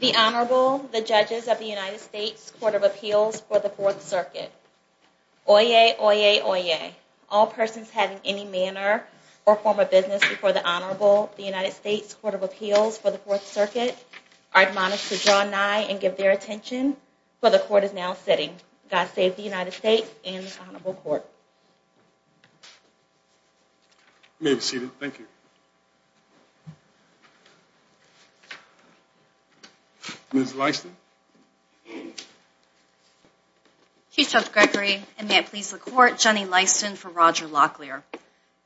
The Honorable, the Judges of the United States Court of Appeals for the Fourth Circuit. Oyez, oyez, oyez. All persons having any manner or form of business before the Honorable, the United States Court of Appeals for the Fourth Circuit, are admonished to draw nigh and give their attention, for the Court is now sitting. God save the United States and the Honorable Court. You may be seated. Thank you. Ms. Lyston. Chief Judge Gregory, and may it please the Court, Jenny Lyston for Roger Locklear.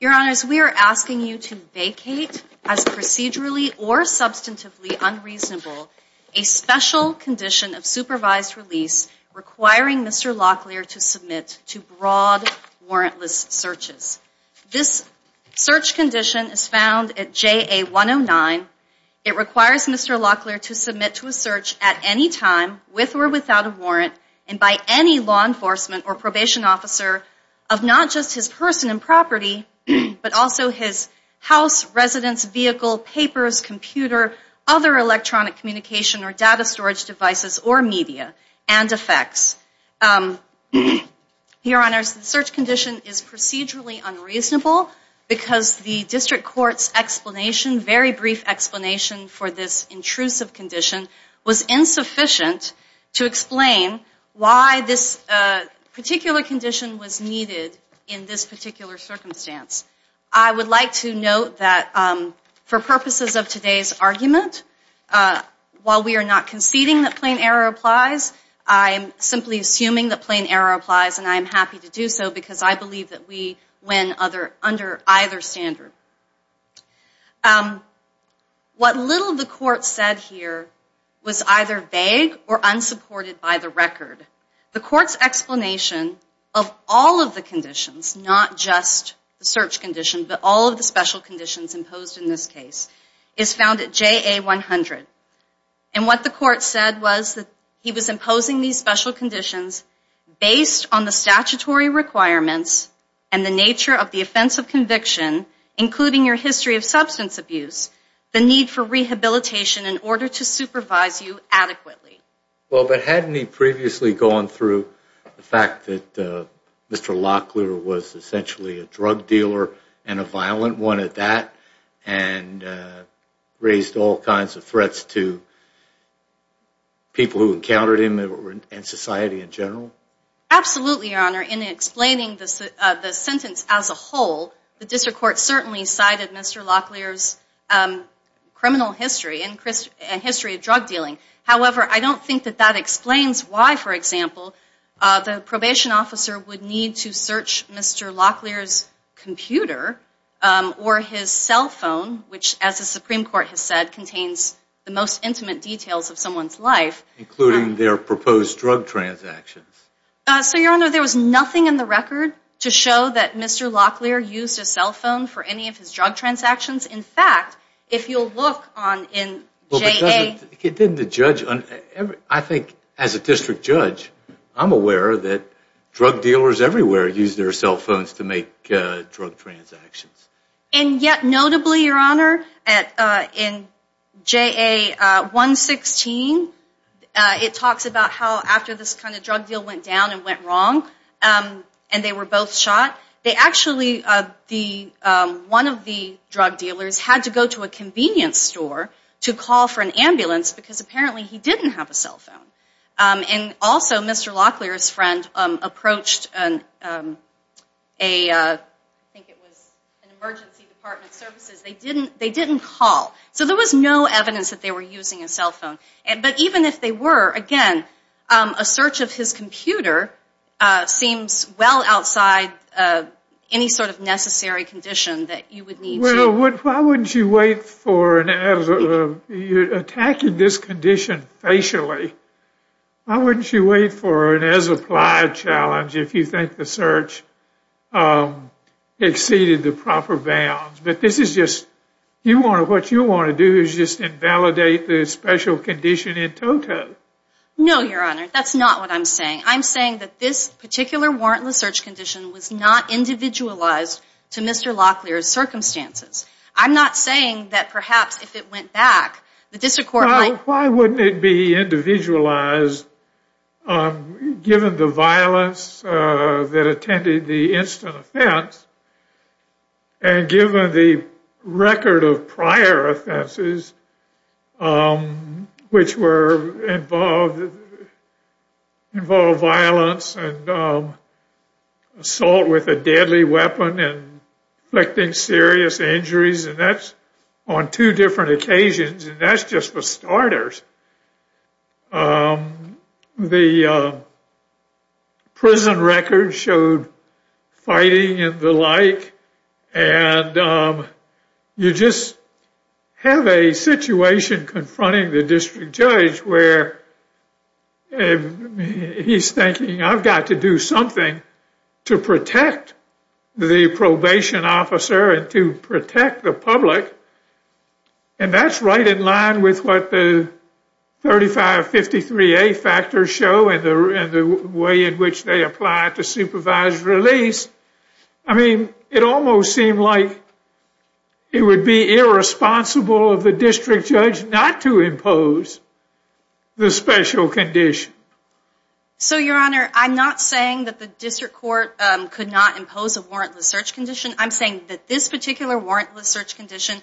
Your Honors, we are asking you to vacate as procedurally or substantively unreasonable a special condition of supervised release requiring Mr. Locklear to submit to broad warrantless searches. This search condition is found at JA 109. It requires Mr. Locklear to submit to a search at any time, with or without a warrant, and by any law enforcement or probation officer of not just his person and property, but also his house, residence, vehicle, papers, computer, other electronic communication or data storage devices or media, and effects. Your Honors, the search condition is procedurally unreasonable because the District Court's explanation, very brief explanation for this intrusive condition, was insufficient to explain why this particular condition was needed in this particular circumstance. I would like to note that for purposes of today's argument, while we are not conceding that plain error applies, I am simply assuming that plain error applies, and I am happy to do so because I believe that we win under either standard. What little the Court said here was either vague or unsupported by the record. The Court's explanation of all of the conditions, not just the search condition, but all of the special conditions imposed in this case, is found at JA 100. And what the Court said was that he was imposing these special conditions based on the statutory requirements and the nature of the offense of conviction, including your history of substance abuse, the need for rehabilitation in order to supervise you adequately. Well, but hadn't he previously gone through the fact that Mr. Locklear was essentially a drug dealer and a violent one at that, and raised all kinds of threats to people who encountered him and society in general? Absolutely, Your Honor. In explaining the sentence as a whole, the District Court certainly cited Mr. Locklear's criminal history and history of drug dealing. However, I don't think that that explains why, for example, the probation officer would need to search Mr. Locklear's computer or his cell phone, which, as the Supreme Court has said, contains the most intimate details of someone's life. Including their proposed drug transactions. So, Your Honor, there was nothing in the record to show that Mr. Locklear used his cell phone for any of his drug transactions. In fact, if you'll look in J.A. I think as a district judge, I'm aware that drug dealers everywhere use their cell phones to make drug transactions. And yet, notably, Your Honor, in J.A. 116, it talks about how after this kind of drug deal went down and went wrong, and they were both shot, one of the drug dealers had to go to a convenience store to call for an ambulance because apparently he didn't have a cell phone. And also, Mr. Locklear's friend approached an emergency department services. They didn't call. So there was no evidence that they were using a cell phone. But even if they were, again, a search of his computer seems well outside any sort of necessary condition that you would need to... Well, why wouldn't you wait for an... attacking this condition facially. Why wouldn't you wait for an as-applied challenge if you think the search exceeded the proper bounds? But this is just... What you want to do is just invalidate the special condition in total. No, Your Honor. That's not what I'm saying. I'm saying that this particular warrantless search condition was not individualized to Mr. Locklear's circumstances. I'm not saying that perhaps if it went back, the district court might... given the violence that attended the instant offense, and given the record of prior offenses, which were involved... involved violence and assault with a deadly weapon and inflicting serious injuries, and that's on two different occasions, and that's just for starters. The prison records showed fighting and the like, and you just have a situation confronting the district judge where he's thinking, I've got to do something to protect the probation officer and to protect the public, and that's right in line with what the 3553A factors show and the way in which they apply it to supervised release. I mean, it almost seemed like it would be irresponsible of the district judge not to impose the special condition. So, Your Honor, I'm not saying that the district court could not impose a warrantless search condition. I'm saying that this particular warrantless search condition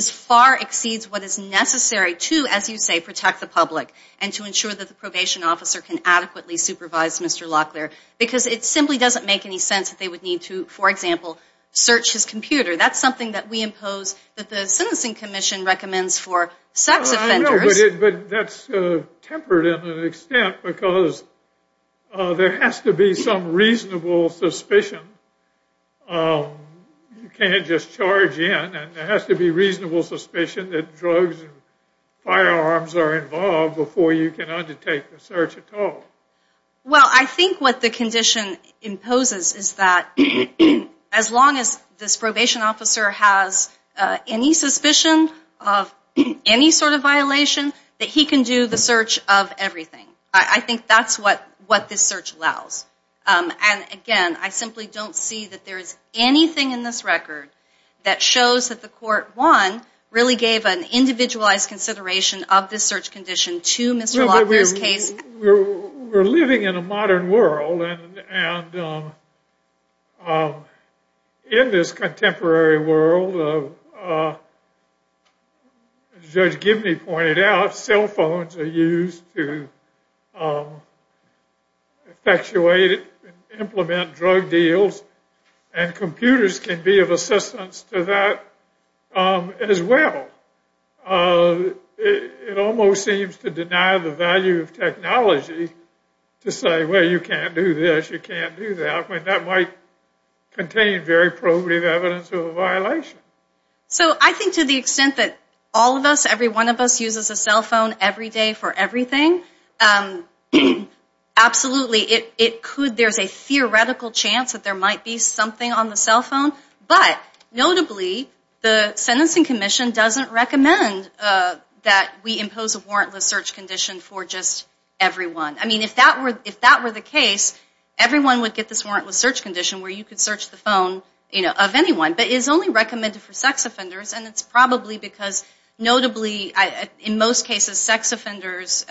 far exceeds what is necessary to, as you say, protect the public and to ensure that the probation officer can adequately supervise Mr. Locklear, because it simply doesn't make any sense that they would need to, for example, search his computer. That's something that we impose that the Sentencing Commission recommends for sex offenders. No, but that's tempered in an extent because there has to be some reasonable suspicion. You can't just charge in, and there has to be reasonable suspicion that drugs and firearms are involved before you can undertake the search at all. Well, I think what the condition imposes is that as long as this probation officer has any suspicion of any sort of violation, that he can do the search of everything. I think that's what this search allows. And again, I simply don't see that there is anything in this record that shows that the Court, one, really gave an individualized consideration of this search condition to Mr. Locklear's case. We're living in a modern world, and in this contemporary world, as Judge Gibney pointed out, cell phones are used to effectuate and implement drug deals, and computers can be of assistance to that as well. It almost seems to deny the value of technology to say, well, you can't do this, you can't do that, when that might contain very probative evidence of a violation. So I think to the extent that all of us, every one of us, uses a cell phone every day for everything, absolutely. There's a theoretical chance that there might be something on the cell phone, but notably, the Sentencing Commission doesn't recommend that we impose a warrantless search condition for just everyone. I mean, if that were the case, everyone would get this warrantless search condition where you could search the phone of anyone. But it is only recommended for sex offenders, and it's probably because notably, in most cases, sex offenders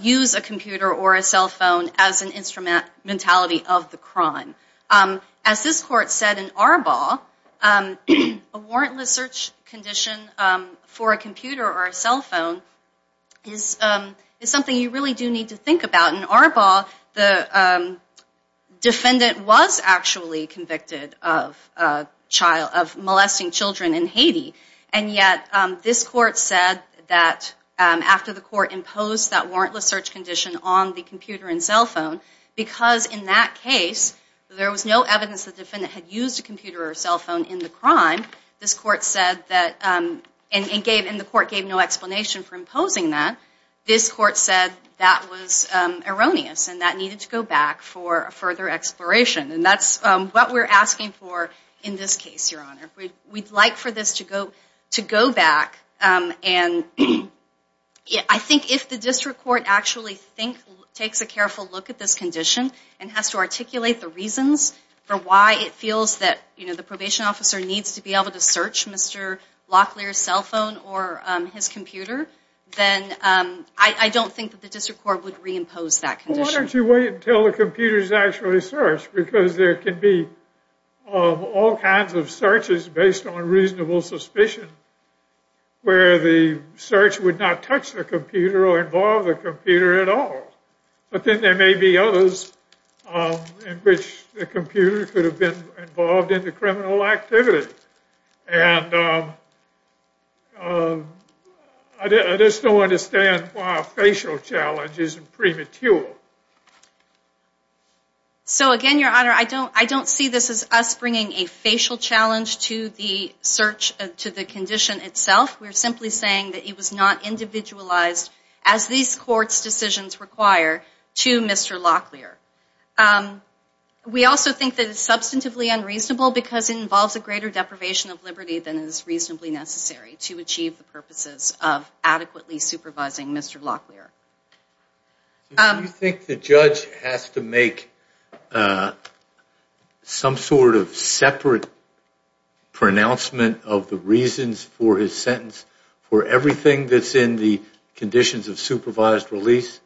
use a computer or a cell phone as an instrumentality of the crime. As this court said in Arbaugh, a warrantless search condition for a computer or a cell phone is something you really do need to think about. In Arbaugh, the defendant was actually convicted of molesting children in Haiti, and yet this court said that after the court imposed that warrantless search condition on the computer and cell phone, because in that case, there was no evidence that the defendant had used a computer or a cell phone in the crime, this court said that, and the court gave no explanation for imposing that, this court said that was erroneous and that needed to go back for further exploration. And that's what we're asking for in this case, Your Honor. We'd like for this to go back, and I think if the district court actually takes a careful look at this condition and has to articulate the reasons for why it feels that the probation officer needs to be able to search Mr. Locklear's cell phone or his computer, then I don't think that the district court would reimpose that condition. Why don't you wait until the computer is actually searched? Because there can be all kinds of searches based on reasonable suspicion where the search would not touch the computer or involve the computer at all. But then there may be others in which the computer could have been involved in the criminal activity. And I just don't understand why a facial challenge isn't premature. So again, Your Honor, I don't see this as us bringing a facial challenge to the condition itself. We're simply saying that it was not individualized as these courts' decisions require to Mr. Locklear. We also think that it's substantively unreasonable because it involves a greater deprivation of liberty than is reasonably necessary to achieve the purposes of adequately supervising Mr. Locklear. Do you think the judge has to make some sort of separate pronouncement of the reasons for his sentence for everything that's in the conditions of supervised release?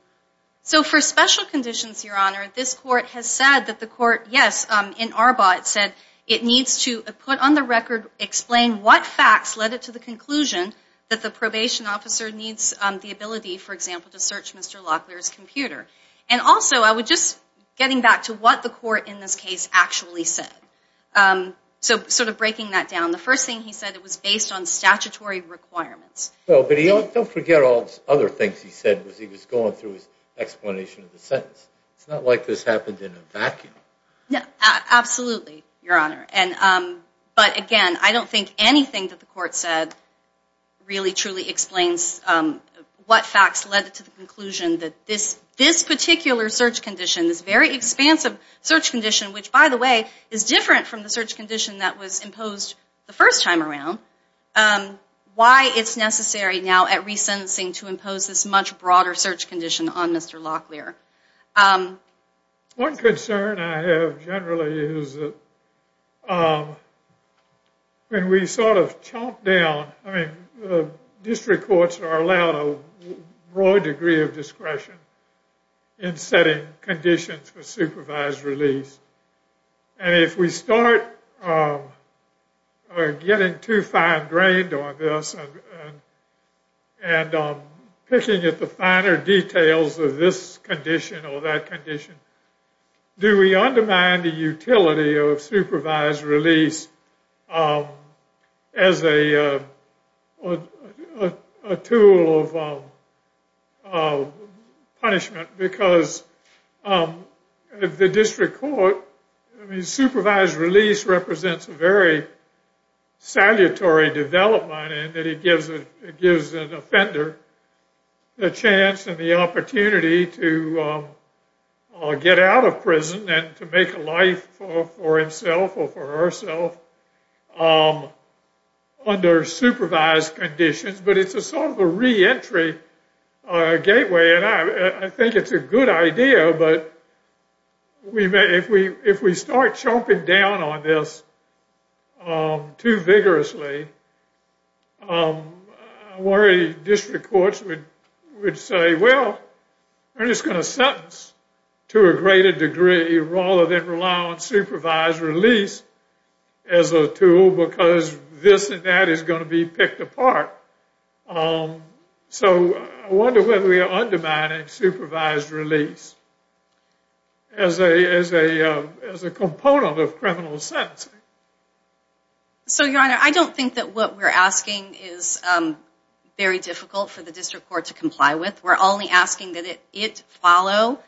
So for special conditions, Your Honor, this court has said that the court, yes, in Arbaugh, it said it needs to put on the record, explain what facts led it to the conclusion that the probation officer needs the ability, for example, to search Mr. Locklear's computer. And also, I would just, getting back to what the court in this case actually said, so sort of breaking that down, the first thing he said it was based on statutory requirements. Well, but don't forget all the other things he said as he was going through his explanation of the sentence. It's not like this happened in a vacuum. Absolutely, Your Honor. But again, I don't think anything that the court said really truly explains what facts led it to the conclusion that this particular search condition, this very expansive search condition, which, by the way, is different from the search condition that was imposed the first time around, why it's necessary now at resentencing to impose this much broader search condition on Mr. Locklear. One concern I have generally is that when we sort of chomp down, I mean, district courts are allowed a broad degree of discretion in setting conditions for supervised release. And if we start getting too fine-grained on this and picking at the finer details of this condition or that condition, do we undermine the utility of supervised release as a tool of punishment? Because the district court, I mean, supervised release represents a very salutary development in that it gives an offender the chance and the opportunity to get out of prison and to make a life for himself or for herself under supervised conditions. But it's a sort of a reentry gateway. And I think it's a good idea, but if we start chomping down on this too vigorously, I worry district courts would say, well, we're just going to sentence to a greater degree rather than rely on supervised release as a tool because this and that is going to be picked apart. So I wonder whether we are undermining supervised release as a component of criminal sentencing. So, Your Honor, I don't think that what we're asking is very difficult for the district court to comply with. We're only asking that it follow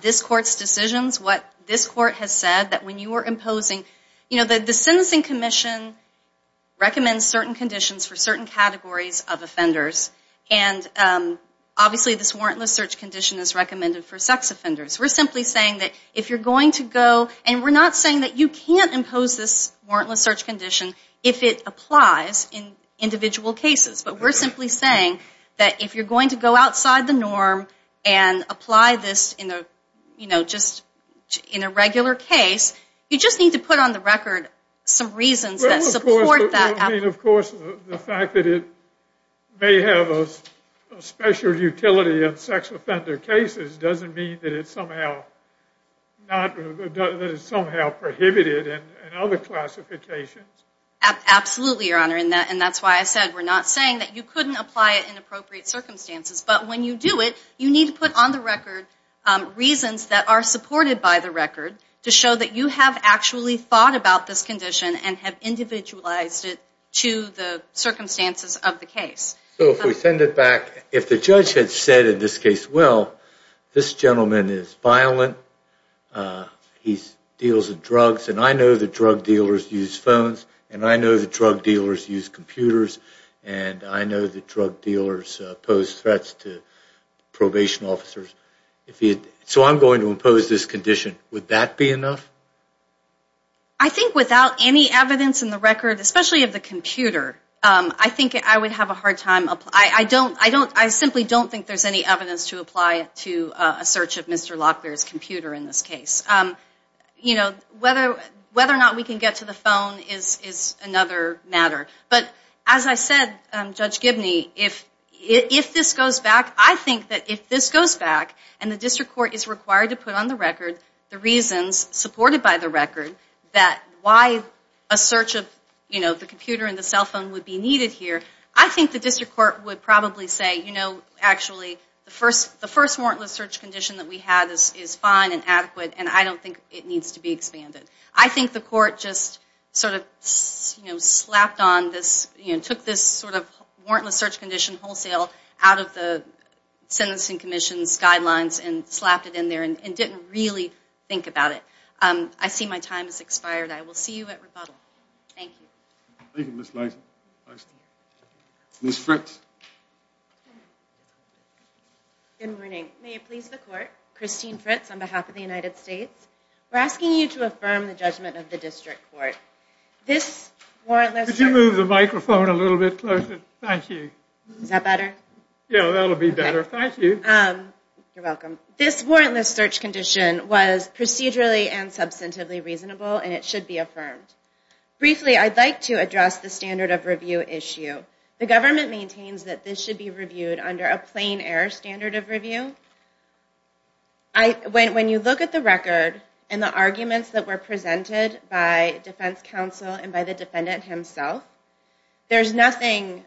this court's decisions. What this court has said that when you were imposing, you know, the sentencing commission recommends certain conditions for certain categories of offenders, and obviously this warrantless search condition is recommended for sex offenders. We're simply saying that if you're going to go, and we're not saying that you can't impose this warrantless search condition if it applies in individual cases, but we're simply saying that if you're going to go outside the norm and apply this in a regular case, you just need to put on the record some reasons that support that. Of course, the fact that it may have a special utility in sex offender cases doesn't mean that it's somehow prohibited in other classifications. Absolutely, Your Honor, and that's why I said we're not saying that you couldn't apply it in appropriate circumstances, but when you do it, you need to put on the record reasons that are supported by the record to show that you have actually thought about this condition and have individualized it to the circumstances of the case. So if we send it back, if the judge had said in this case, well, this gentleman is violent, he deals in drugs, and I know that drug dealers use phones, and I know that drug dealers use computers, and I know that drug dealers pose threats to probation officers. So I'm going to impose this condition. Would that be enough? I think without any evidence in the record, especially of the computer, I think I would have a hard time. I simply don't think there's any evidence to apply it to a search of Mr. Locklear's computer in this case. Whether or not we can get to the phone is another matter. But as I said, Judge Gibney, if this goes back, I think that if this goes back, and the district court is required to put on the record the reasons supported by the record that why a search of the computer and the cell phone would be needed here, I think the district court would probably say, you know, actually, the first warrantless search condition that we had is fine and adequate, and I don't think it needs to be expanded. I think the court just sort of, you know, slapped on this, you know, took this sort of warrantless search condition wholesale out of the sentencing commission's guidelines and slapped it in there and didn't really think about it. I see my time has expired. I will see you at rebuttal. Thank you. Thank you, Ms. Lison. Ms. Fritz. Good morning. May it please the court. Christine Fritz on behalf of the United States. We're asking you to affirm the judgment of the district court. Could you move the microphone a little bit closer? Thank you. Is that better? Yeah, that'll be better. Thank you. You're welcome. This warrantless search condition was procedurally and substantively reasonable, and it should be affirmed. Briefly, I'd like to address the standard of review issue. The government maintains that this should be reviewed under a plain error standard of review. When you look at the record and the arguments that were presented by defense counsel and by the defendant himself, there's nothing,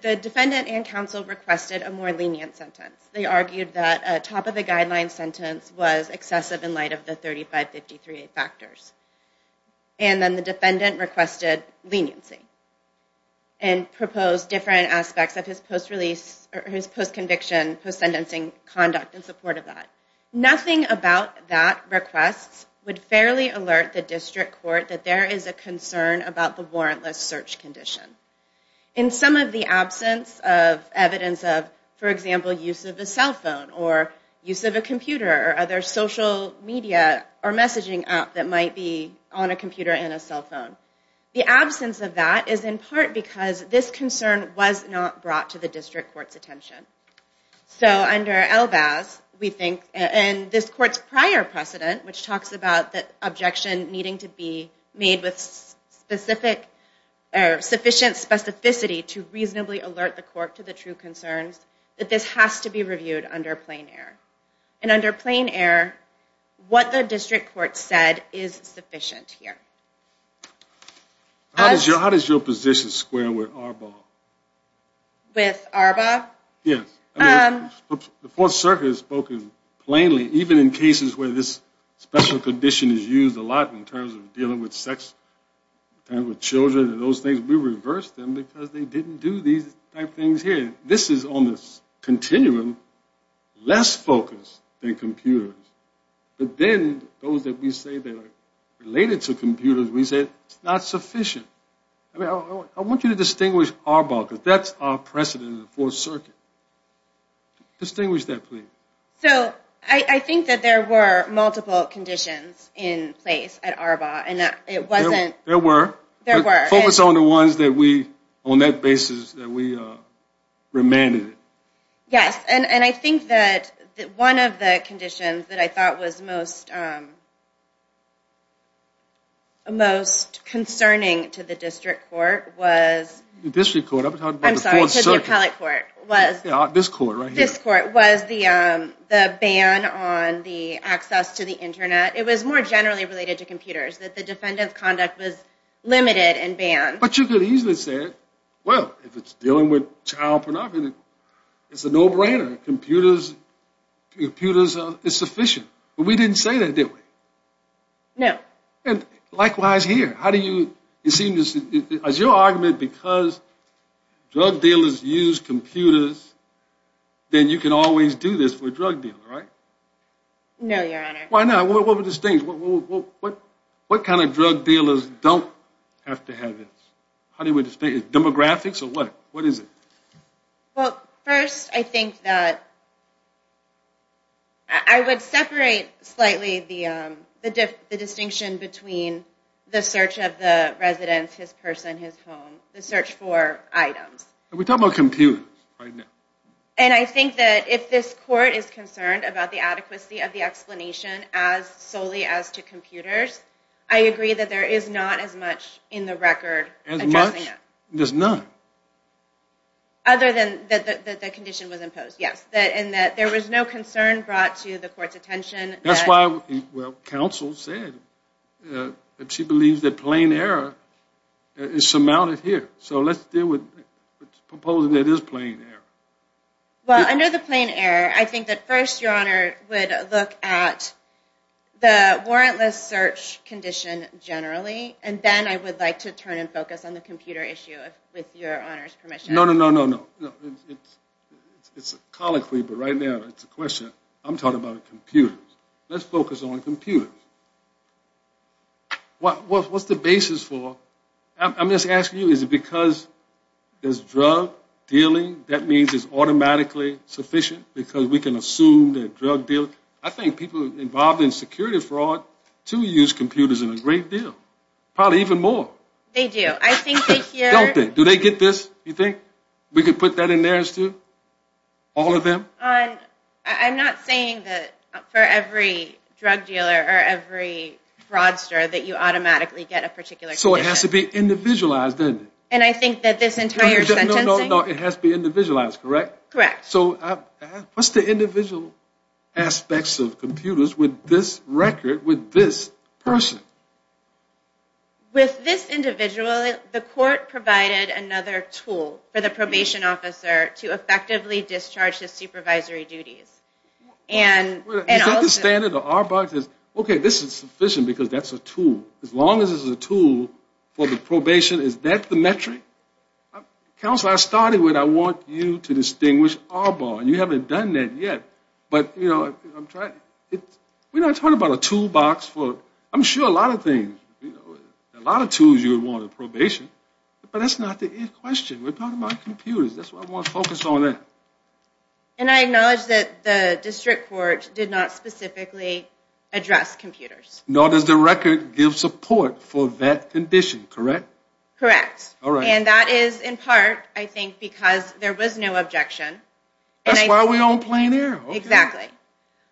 the defendant and counsel requested a more lenient sentence. They argued that a top-of-the-guideline sentence was excessive in light of the 3553A factors. And then the defendant requested leniency and proposed different aspects of his post-release, or his post-conviction, post-sentencing conduct in support of that. Nothing about that request would fairly alert the district court that there is a concern about the warrantless search condition. In some of the absence of evidence of, for example, use of a cell phone or use of a computer or other social media or messaging app that might be on a computer and a cell phone, the absence of that is in part because this concern was not brought to the district court's attention. So under Elbaz, we think, and this court's prior precedent, which talks about the objection needing to be made with sufficient specificity to reasonably alert the court to the true concerns, that this has to be reviewed under plain error. And under plain error, what the district court said is sufficient here. How does your position square with Arbaugh? With Arbaugh? Yes. The Fourth Circuit has spoken plainly, even in cases where this special condition is used a lot in terms of dealing with sex and with children and those things. We reversed them because they didn't do these type things here. This is on the continuum less focused than computers. But then those that we say that are related to computers, we say it's not sufficient. I want you to distinguish Arbaugh because that's our precedent in the Fourth Circuit. Distinguish that, please. So I think that there were multiple conditions in place at Arbaugh. There were. There were. Focus on the ones that we, on that basis, that we remanded. Yes. And I think that one of the conditions that I thought was most concerning to the district court was... The district court. I'm sorry. To the appellate court. This court right here. This court was the ban on the access to the Internet. It was more generally related to computers, that the defendant's conduct was limited and banned. But you could easily say, well, if it's dealing with child pornography, it's a no-brainer. Computers is sufficient. But we didn't say that, did we? No. And likewise here. How do you... It seems as your argument because drug dealers use computers, then you can always do this for drug dealers, right? No, Your Honor. Why not? What were the things? What kind of drug dealers don't have to have this? How do you... Demographics or what? What is it? Well, first, I think that I would separate slightly the distinction between the search of the residence, his person, his home. The search for items. We're talking about computers right now. And I think that if this court is concerned about the adequacy of the explanation as solely as to computers, I agree that there is not as much in the record. As much? There's none. Other than that the condition was imposed, yes. And that there was no concern brought to the court's attention. That's why, well, counsel said that she believes that plain error is surmounted here. So let's deal with proposing that it is plain error. Well, under the plain error, I think that first Your Honor would look at the warrantless search condition generally, and then I would like to turn and focus on the computer issue with Your Honor's permission. No, no, no, no, no. It's a colloquy, but right now it's a question. I'm talking about computers. Let's focus on computers. What's the basis for... I'm just asking you, is it because there's drug dealing, that means it's automatically sufficient because we can assume that drug dealing... I think people involved in security fraud too use computers in a great deal, probably even more. They do. I think they hear... Don't they? Do they get this, you think? We could put that in there as to all of them? I'm not saying that for every drug dealer or every fraudster that you automatically get a particular condition. So it has to be individualized, doesn't it? And I think that this entire sentencing... No, no, no, it has to be individualized, correct? Correct. So what's the individual aspects of computers with this record, with this person? With this individual, the court provided another tool for the probation officer to effectively discharge his supervisory duties. And also... Okay, this is sufficient because that's a tool. As long as it's a tool for the probation, is that the metric? Counselor, I started with I want you to distinguish our bar. You haven't done that yet. But, you know, I'm trying... We're not talking about a toolbox for... I'm sure a lot of things, a lot of tools you would want in probation. But that's not the end question. We're talking about computers. That's why I want to focus on that. And I acknowledge that the district court did not specifically address computers. Nor does the record give support for that condition, correct? Correct. And that is in part, I think, because there was no objection. That's why we're on plain air. Exactly.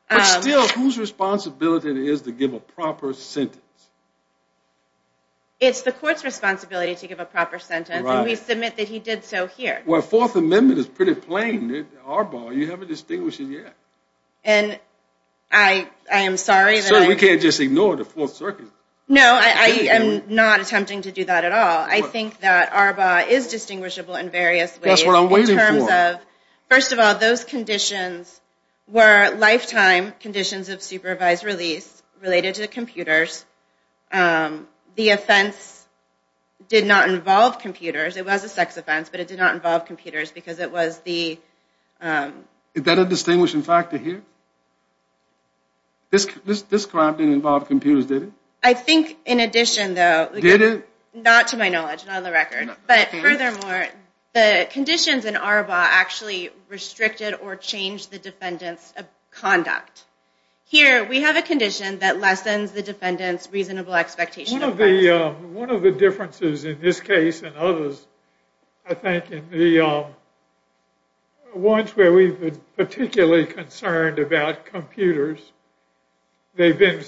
But still, whose responsibility it is to give a proper sentence? It's the court's responsibility to give a proper sentence. And we submit that he did so here. Well, Fourth Amendment is pretty plain. Our bar, you haven't distinguished it yet. And I am sorry that I... We can't just ignore the Fourth Circuit. No, I am not attempting to do that at all. I think that our bar is distinguishable in various ways. That's what I'm waiting for. First of all, those conditions were lifetime conditions of supervised release related to computers. The offense did not involve computers. It was a sex offense, but it did not involve computers because it was the... Is that a distinguishing factor here? This crime didn't involve computers, did it? I think, in addition, though... Did it? Not to my knowledge. Not on the record. But furthermore, the conditions in our bar actually restricted or changed the defendant's conduct. Here, we have a condition that lessens the defendant's reasonable expectation... One of the differences in this case and others, I think, in the ones where we've been particularly concerned about computers, they've been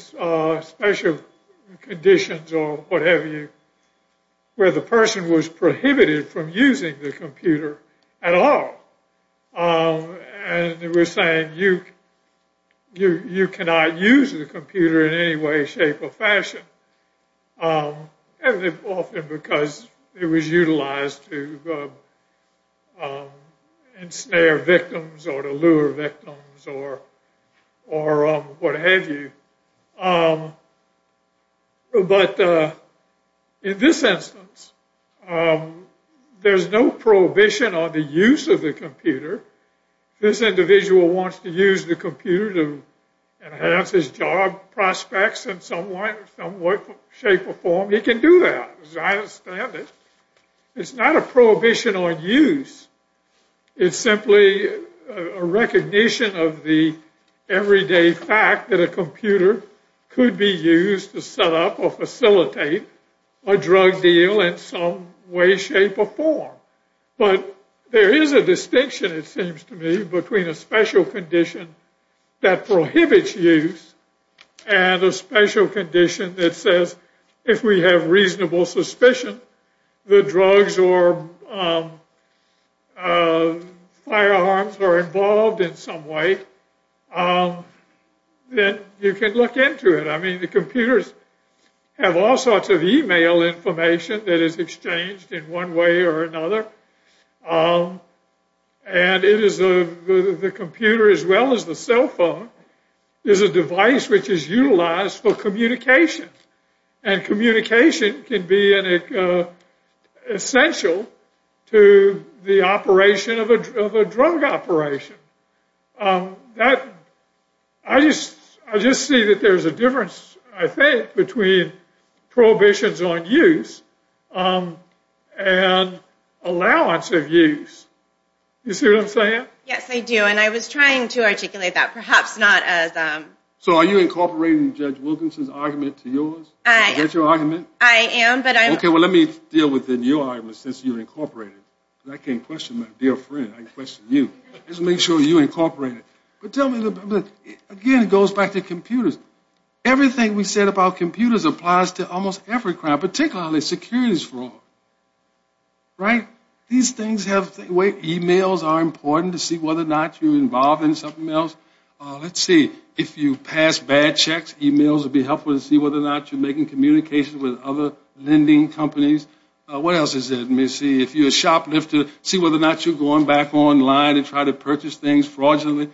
special conditions or whatever, where the person was prohibited from using the computer at all. And we're saying you cannot use the computer in any way, shape, or fashion. And often because it was utilized to ensnare victims or to lure victims or what have you. But in this instance, there's no prohibition on the use of the computer. This individual wants to use the computer to enhance his job prospects in some way, shape, or form. He can do that. I understand it. It's not a prohibition on use. It's simply a recognition of the everyday fact that a computer could be used to set up or facilitate a drug deal in some way, shape, or form. But there is a distinction, it seems to me, between a special condition that prohibits use and a special condition that says if we have reasonable suspicion, the drugs or firearms are involved in some way, then you can look into it. I mean, the computers have all sorts of e-mail information that is exchanged in one way or another. And the computer as well as the cell phone is a device which is utilized for communication. And communication can be essential to the operation of a drug operation. I just see that there's a difference, I think, between prohibitions on use and allowance of use. You see what I'm saying? Yes, I do. And I was trying to articulate that, perhaps not as a... So are you incorporating Judge Wilkinson's argument to yours? I am. Is that your argument? I am, but I'm... Okay, well, let me deal with your argument since you're incorporating it. I can't question my dear friend. I can question you. Let's make sure you incorporate it. But tell me, again, it goes back to computers. Everything we said about computers applies to almost every crime, particularly securities fraud. Right? These things have... E-mails are important to see whether or not you're involved in something else. Let's see. If you pass bad checks, e-mails will be helpful to see whether or not you're making communication with other lending companies. What else is there? Let me see. If you're a shoplifter, see whether or not you're going back online to try to purchase things fraudulently.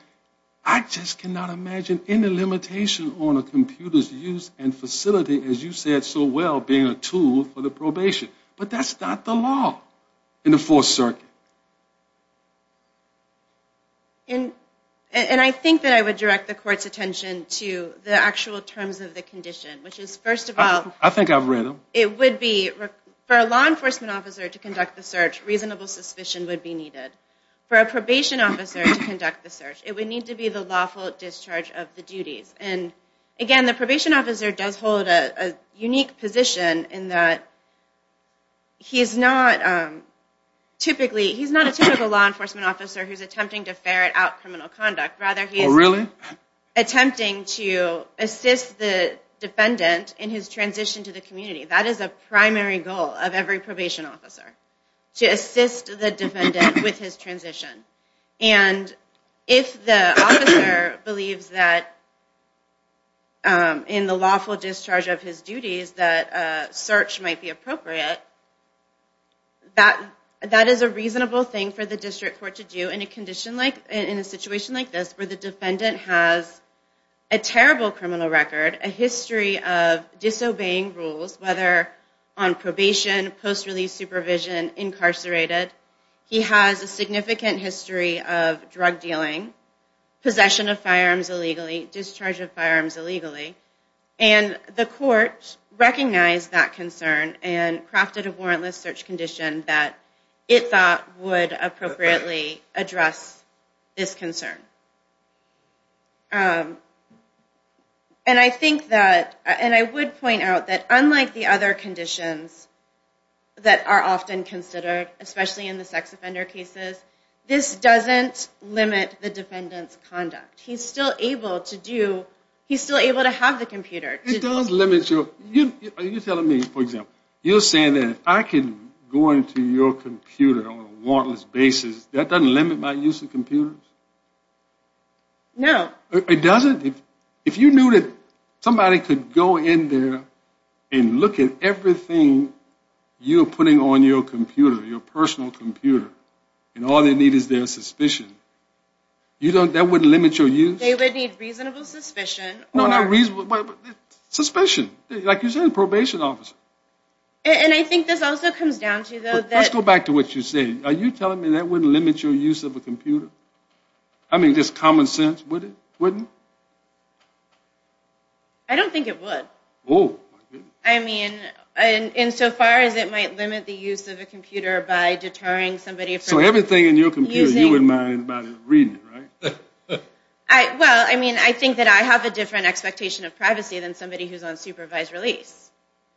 I just cannot imagine any limitation on a computer's use and facility, as you said so well, being a tool for the probation. But that's not the law in the Fourth Circuit. And I think that I would direct the court's attention to the actual terms of the condition, which is, first of all... I think I've read them. It would be, for a law enforcement officer to conduct the search, reasonable suspicion would be needed. For a probation officer to conduct the search, it would need to be the lawful discharge of the duties. Again, the probation officer does hold a unique position in that he's not a typical law enforcement officer who's attempting to ferret out criminal conduct. Rather, he is attempting to assist the defendant in his transition to the community. That is a primary goal of every probation officer, to assist the defendant with his transition. And if the officer believes that, in the lawful discharge of his duties, that a search might be appropriate, that is a reasonable thing for the district court to do in a situation like this, where the defendant has a terrible criminal record, a history of disobeying rules, whether on probation, post-release supervision, incarcerated. He has a significant history of drug dealing, possession of firearms illegally, discharge of firearms illegally. And the court recognized that concern and crafted a warrantless search condition that it thought would appropriately address this concern. And I think that, and I would point out that unlike the other conditions that are often considered, especially in the sex offender cases, this doesn't limit the defendant's conduct. He's still able to do, he's still able to have the computer. It does limit your, are you telling me, for example, you're saying that if I can go into your computer on a warrantless basis, that doesn't limit my use of computers? No. It doesn't? If you knew that somebody could go in there and look at everything you're putting on your computer, your personal computer, and all they need is their suspicion, you don't, that wouldn't limit your use? They would need reasonable suspicion or... No, not reasonable, but suspicion. Like you said, a probation officer. And I think this also comes down to, though, that... I mean, just common sense, would it? Wouldn't it? I don't think it would. Oh, my goodness. I mean, insofar as it might limit the use of a computer by deterring somebody from using... So everything in your computer, you wouldn't mind anybody reading it, right? Well, I mean, I think that I have a different expectation of privacy than somebody who's on supervised release.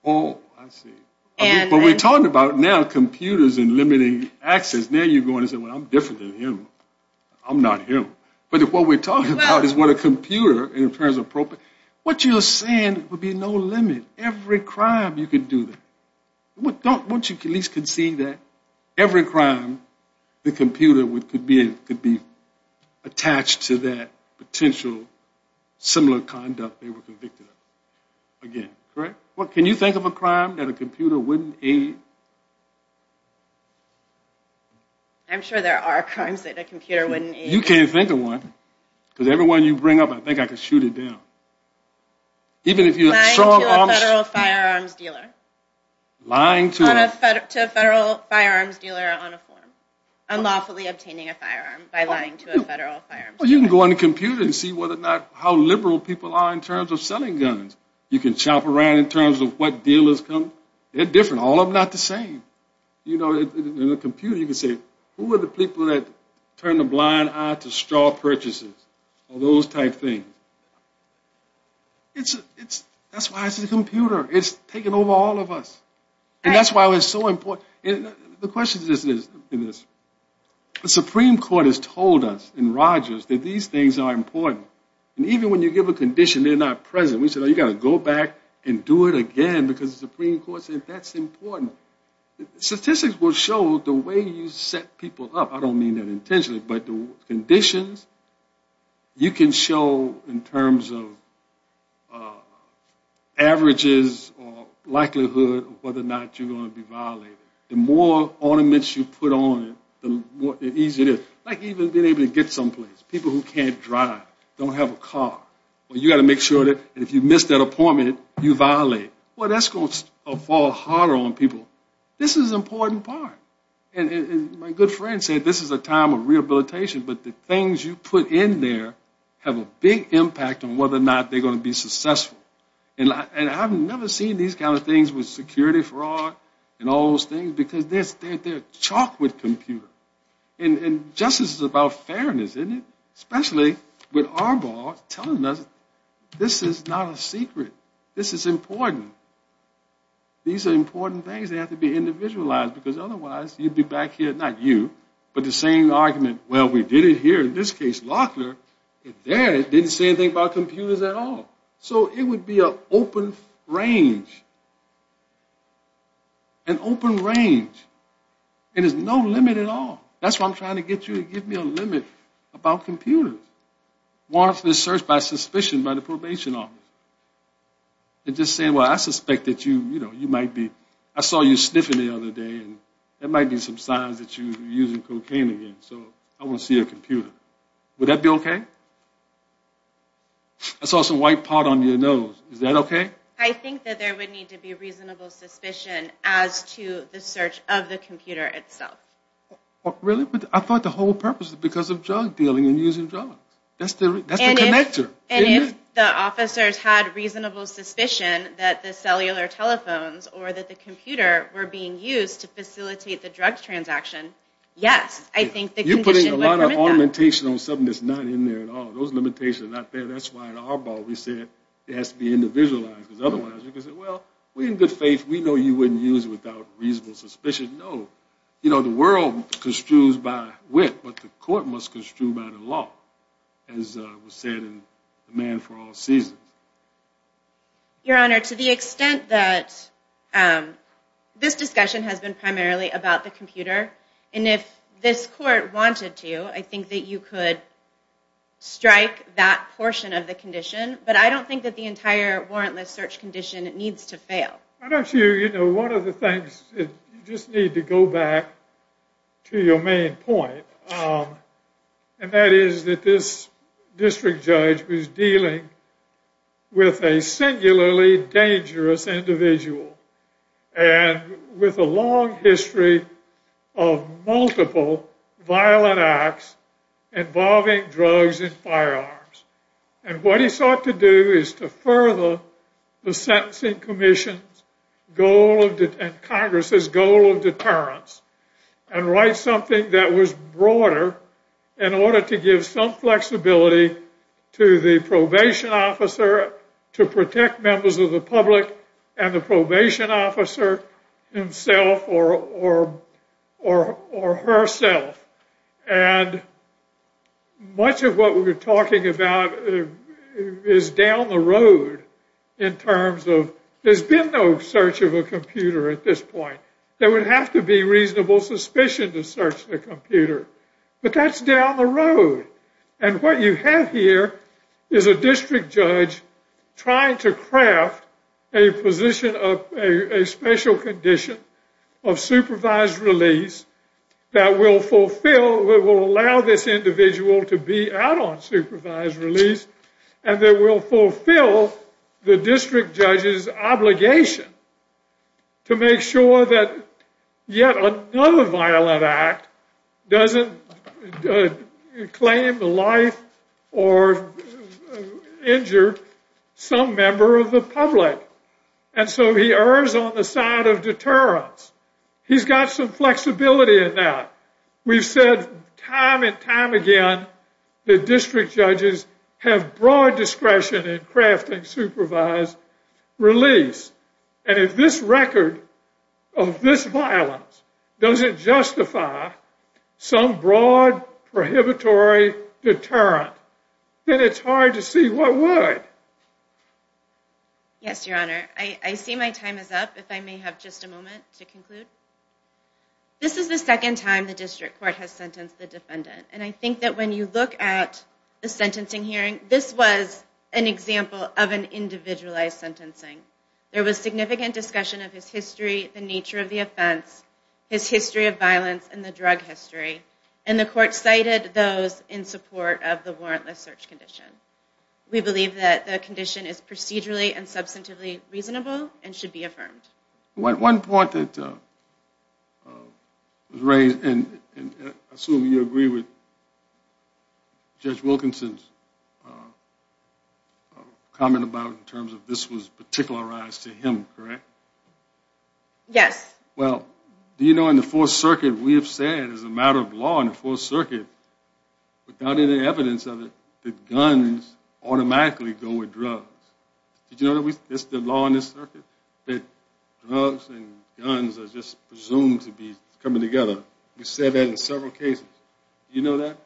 Oh, I see. But we're talking about now computers and limiting access. Now you're going to say, well, I'm different than him. I'm not him. But what we're talking about is what a computer, in terms of... What you're saying would be no limit. Every crime, you could do that. Don't you at least conceive that every crime, the computer could be attached to that potential similar conduct they were convicted of? Again, correct? Can you think of a crime that a computer wouldn't aid? I'm sure there are crimes that a computer wouldn't aid. You can't think of one? Because every one you bring up, I think I could shoot it down. Lying to a federal firearms dealer. Lying to a... To a federal firearms dealer on a form. Unlawfully obtaining a firearm by lying to a federal firearms dealer. Well, you can go on the computer and see how liberal people are in terms of selling guns. You can chomp around in terms of what dealers come. They're different. All of them are not the same. You know, in a computer, you can say, who are the people that turn a blind eye to straw purchases? All those type things. That's why it's a computer. It's taken over all of us. And that's why it's so important. The question is this. The Supreme Court has told us and Rogers that these things are important. And even when you give a condition, they're not present. We said, oh, you've got to go back and do it again because the Supreme Court said that's important. Statistics will show the way you set people up. I don't mean that intentionally. But the conditions, you can show in terms of averages or likelihood of whether or not you're going to be violated. The more ornaments you put on, the easier it is. Like even being able to get someplace. People who can't drive, don't have a car. Well, you've got to make sure that if you miss that appointment, you violate. Well, that's going to fall harder on people. This is an important part. And my good friend said this is a time of rehabilitation, but the things you put in there have a big impact on whether or not they're going to be successful. And I've never seen these kind of things with security fraud and all those things because they're chalk with computers. And justice is about fairness, isn't it? Especially with Arbol telling us this is not a secret. This is important. These are important things that have to be individualized because otherwise you'd be back here, not you, but the same argument, well, we did it here, in this case Locklear, and there it didn't say anything about computers at all. So it would be an open range. An open range. And there's no limit at all. That's why I'm trying to get you to give me a limit about computers. Why don't you search by suspicion by the probation office? And just say, well, I suspect that you might be, I saw you sniffing the other day, and there might be some signs that you're using cocaine again, so I want to see your computer. Would that be okay? I saw some white part on your nose. Is that okay? I think that there would need to be reasonable suspicion as to the search of the computer itself. Really? I thought the whole purpose was because of drug dealing and using drugs. That's the connector. And if the officers had reasonable suspicion that the cellular telephones or that the computer were being used to facilitate the drug transaction, yes, I think the condition would permit that. You're putting a lot of augmentation on something that's not in there at all. Those limitations are not there. That's why in our ball we said it has to be individualized, because otherwise we could say, well, we're in good faith. We know you wouldn't use it without reasonable suspicion. No. You know, the world construes by wit, but the court must construe by the law, as was said in The Man for All Seasons. Your Honor, to the extent that this discussion has been primarily about the computer, and if this court wanted to, I think that you could strike that portion of the condition, but I don't think that the entire warrantless search condition needs to fail. Why don't you, you know, one of the things, you just need to go back to your main point, and that is that this district judge was dealing with a singularly dangerous individual, and with a long history of multiple violent acts involving drugs and firearms. And what he sought to do is to further the Sentencing Commission's goal, and Congress's goal of deterrence, and write something that was broader in order to give some flexibility to the probation officer to protect members of the public and the probation officer himself or herself. And much of what we're talking about is down the road in terms of, there's been no search of a computer at this point. There would have to be reasonable suspicion to search the computer. But that's down the road. And what you have here is a district judge trying to craft a position of, a special condition of supervised release that will fulfill, that will allow this individual to be out on supervised release, and that will fulfill the district judge's obligation to make sure that yet another violent act doesn't claim the life or injure some member of the public. And so he errs on the side of deterrence. He's got some flexibility in that. We've said time and time again that district judges have broad discretion in crafting supervised release. And if this record of this violence doesn't justify some broad prohibitory deterrent, then it's hard to see what would. Yes, Your Honor. I see my time is up. If I may have just a moment to conclude. This is the second time the district court has sentenced the defendant. And I think that when you look at the sentencing hearing, this was an example of an individualized sentencing. There was significant discussion of his history, the nature of the offense, his history of violence, and the drug history. And the court cited those in support of the warrantless search condition. We believe that the condition is procedurally and substantively reasonable and should be affirmed. One point that was raised, and I assume you agree with Judge Wilkinson's comment about in terms of this was particularized to him, correct? Yes. Well, do you know in the Fourth Circuit, we have said as a matter of law in the Fourth Circuit, without any evidence of it, that guns automatically go with drugs. Did you know that's the law in this circuit? That drugs and guns are just presumed to be coming together. We said that in several cases. Do you know that?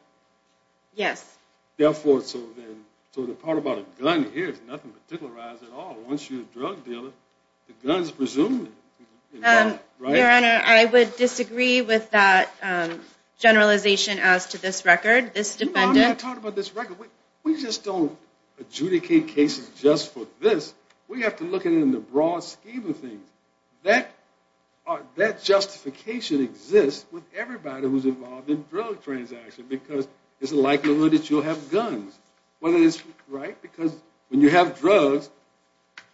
Yes. Therefore, so the part about a gun here is nothing particularized at all. Once you're a drug dealer, the gun is presumed involved, right? Your Honor, I would disagree with that generalization as to this record. We just don't adjudicate cases just for this. We have to look at it in the broad scheme of things. That justification exists with everybody who's involved in drug transactions because there's a likelihood that you'll have guns. Right? Because when you have drugs,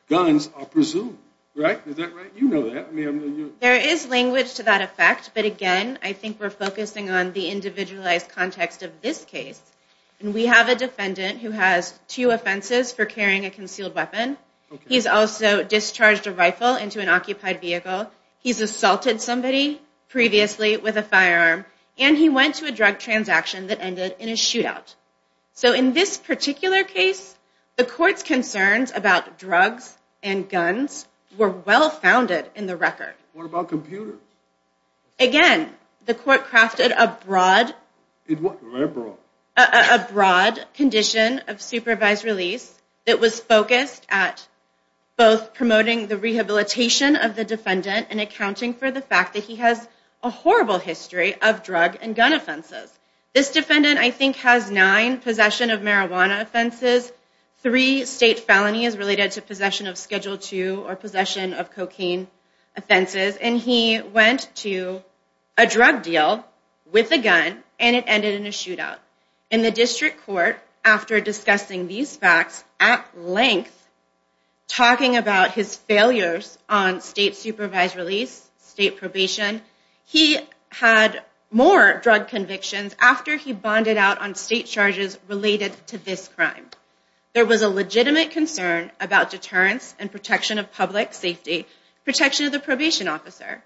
guns are presumed, right? Is that right? You know that. There is language to that effect. But again, I think we're focusing on the individualized context of this case. We have a defendant who has two offenses for carrying a concealed weapon. He's also discharged a rifle into an occupied vehicle. He's assaulted somebody previously with a firearm, and he went to a drug transaction that ended in a shootout. So in this particular case, the court's concerns about drugs and guns were well-founded in the record. What about computers? Again, the court crafted a broad condition of supervised release that was focused at both promoting the rehabilitation of the defendant and accounting for the fact that he has a horrible history of drug and gun offenses. This defendant, I think, has nine possession of marijuana offenses, three state felonies related to possession of Schedule II or possession of cocaine offenses, and he went to a drug deal with a gun, and it ended in a shootout. In the district court, after discussing these facts at length, talking about his failures on state supervised release, state probation, he had more drug convictions after he bonded out on state charges related to this crime. There was a legitimate concern about deterrence and protection of public safety, protection of the probation officer.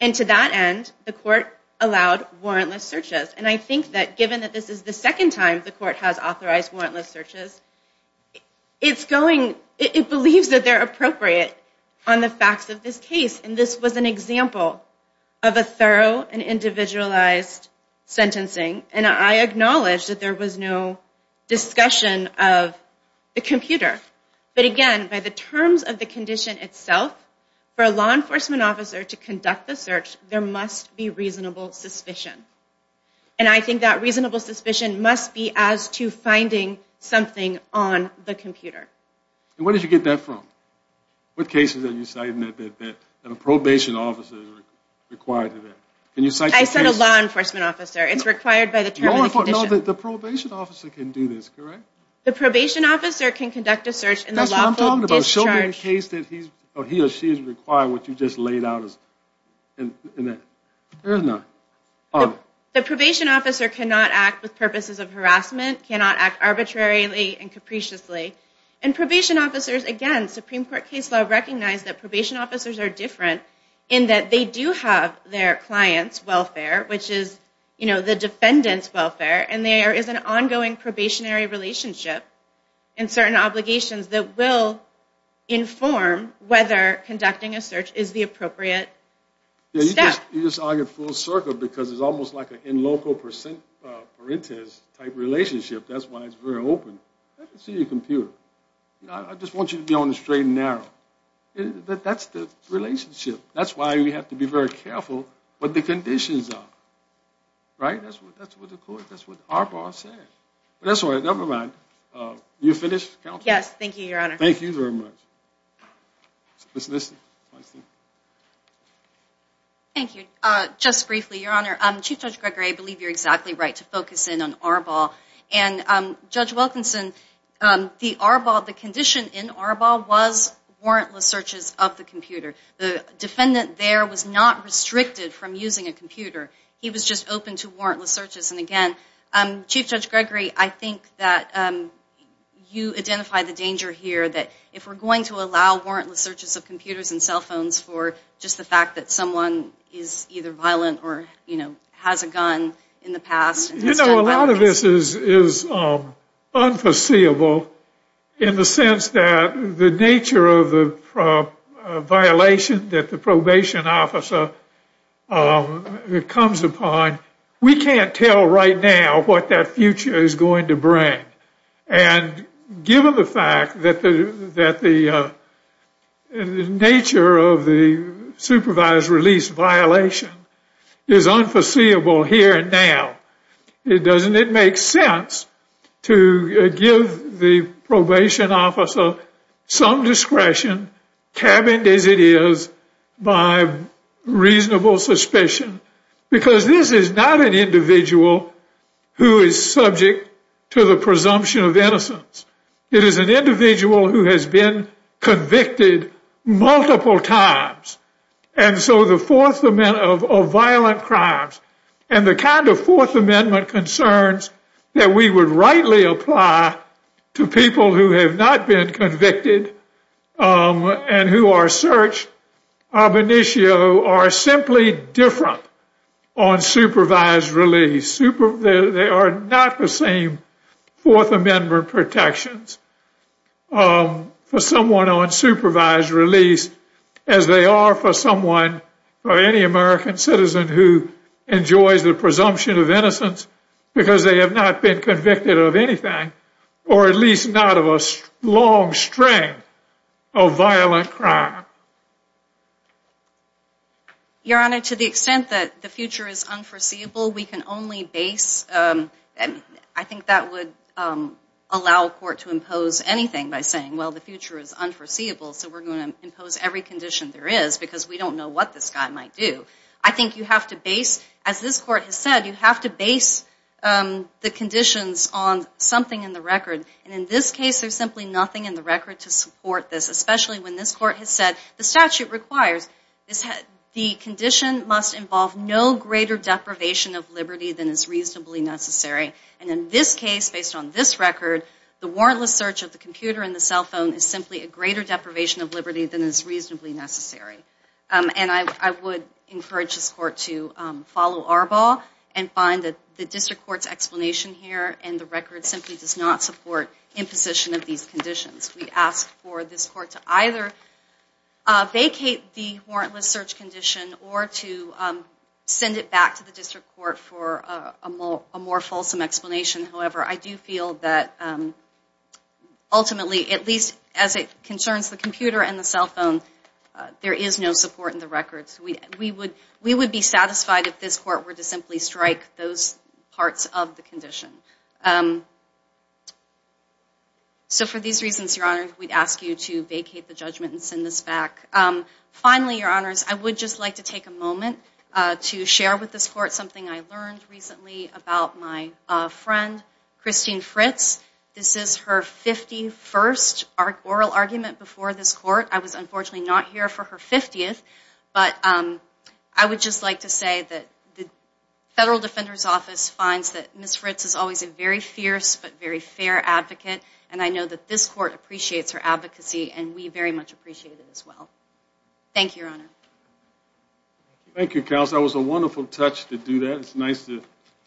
And to that end, the court allowed warrantless searches. And I think that given that this is the second time the court has authorized warrantless searches, it believes that they're appropriate on the facts of this case. And this was an example of a thorough and individualized sentencing. And I acknowledge that there was no discussion of the computer. But again, by the terms of the condition itself, for a law enforcement officer to conduct the search, there must be reasonable suspicion. And I think that reasonable suspicion must be as to finding something on the computer. And where did you get that from? What cases are you citing that a probation officer is required to do that? I cite a law enforcement officer. It's required by the terms of the condition. No, the probation officer can do this, correct? The probation officer can conduct a search in the lawful discharge. That's what I'm talking about. She'll be in a case that he or she is required, what you just laid out in that. The probation officer cannot act with purposes of harassment, cannot act arbitrarily and capriciously. And probation officers, again, Supreme Court case law recognized that probation officers are different in that they do have their client's welfare, which is, you know, the defendant's welfare, and there is an ongoing probationary relationship and certain obligations that will inform whether conducting a search is the appropriate step. You just argue full circle because it's almost like an in-local parentes-type relationship. That's why it's very open. I can see your computer. I just want you to be on the straight and narrow. That's the relationship. That's why we have to be very careful what the conditions are. Right? That's what the court, that's what Arbol said. But that's all right. Never mind. Are you finished, counsel? Yes, thank you, Your Honor. Thank you very much. Ms. Liston. Thank you. Just briefly, Your Honor, Chief Judge Gregory, I believe you're exactly right to focus in on Arbol. And, Judge Wilkinson, the condition in Arbol was warrantless searches of the computer. The defendant there was not restricted from using a computer. He was just open to warrantless searches. And, again, Chief Judge Gregory, I think that you identify the danger here that if we're going to allow warrantless searches of computers and cell phones for just the fact that someone is either violent or, you know, has a gun in the past. You know, a lot of this is unforeseeable in the sense that the nature of the violation that the probation officer comes upon, we can't tell right now what that future is going to bring. And given the fact that the nature of the supervised release violation is unforeseeable here and now, doesn't it make sense to give the probation officer some discretion, cabined as it is, by reasonable suspicion? Because this is not an individual who is subject to the presumption of innocence. It is an individual who has been convicted multiple times. And so the Fourth Amendment of violent crimes and the kind of Fourth Amendment concerns that we would rightly apply to people who have not been convicted and who are searched ab initio are simply different on supervised release. They are not the same Fourth Amendment protections for someone on supervised release as they are for someone or any American citizen who enjoys the presumption of innocence because they have not been convicted of anything or at least not of a long string of violent crime. Your Honor, to the extent that the future is unforeseeable, we can only base... I think that would allow a court to impose anything by saying, well, the future is unforeseeable, so we're going to impose every condition there is because we don't know what this guy might do. I think you have to base, as this Court has said, you have to base the conditions on something in the record. And in this case, there's simply nothing in the record to support this, especially when this Court has said the statute requires the condition must involve no greater deprivation of liberty than is reasonably necessary. And in this case, based on this record, the warrantless search of the computer and the cell phone is simply a greater deprivation of liberty than is reasonably necessary. And I would encourage this Court to follow our ball and find that the District Court's explanation here and the record simply does not support imposition of these conditions. We ask for this Court to either vacate the warrantless search condition or to send it back to the District Court for a more fulsome explanation. However, I do feel that ultimately, at least as it concerns the computer and the cell phone, there is no support in the record. So we would be satisfied if this Court were to simply strike those parts of the condition. So for these reasons, Your Honor, we'd ask you to vacate the judgment and send this back. Finally, Your Honors, I would just like to take a moment to share with this Court something I learned recently about my friend, Christine Fritz. This is her 51st oral argument before this Court. I was unfortunately not here for her 50th, but I would just like to say that the Federal Defender's Office finds that Ms. Fritz is always a very fierce but very fair advocate, and I know that this Court appreciates her advocacy and we very much appreciate it as well. Thank you, Your Honor. Thank you, Counsel. That was a wonderful touch to do that. It's nice to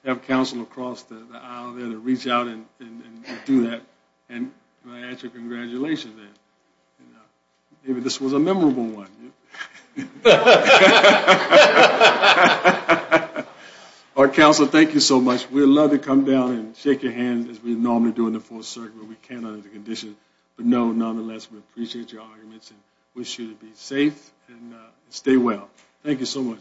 have counsel across the aisle there to reach out and do that. And I ask your congratulations. Maybe this was a memorable one. Our counsel, thank you so much. We'd love to come down and shake your hand as we normally do in the Fourth Circuit when we can under the conditions, but no, nonetheless, we appreciate your arguments and wish you to be safe and stay well. Thank you so much.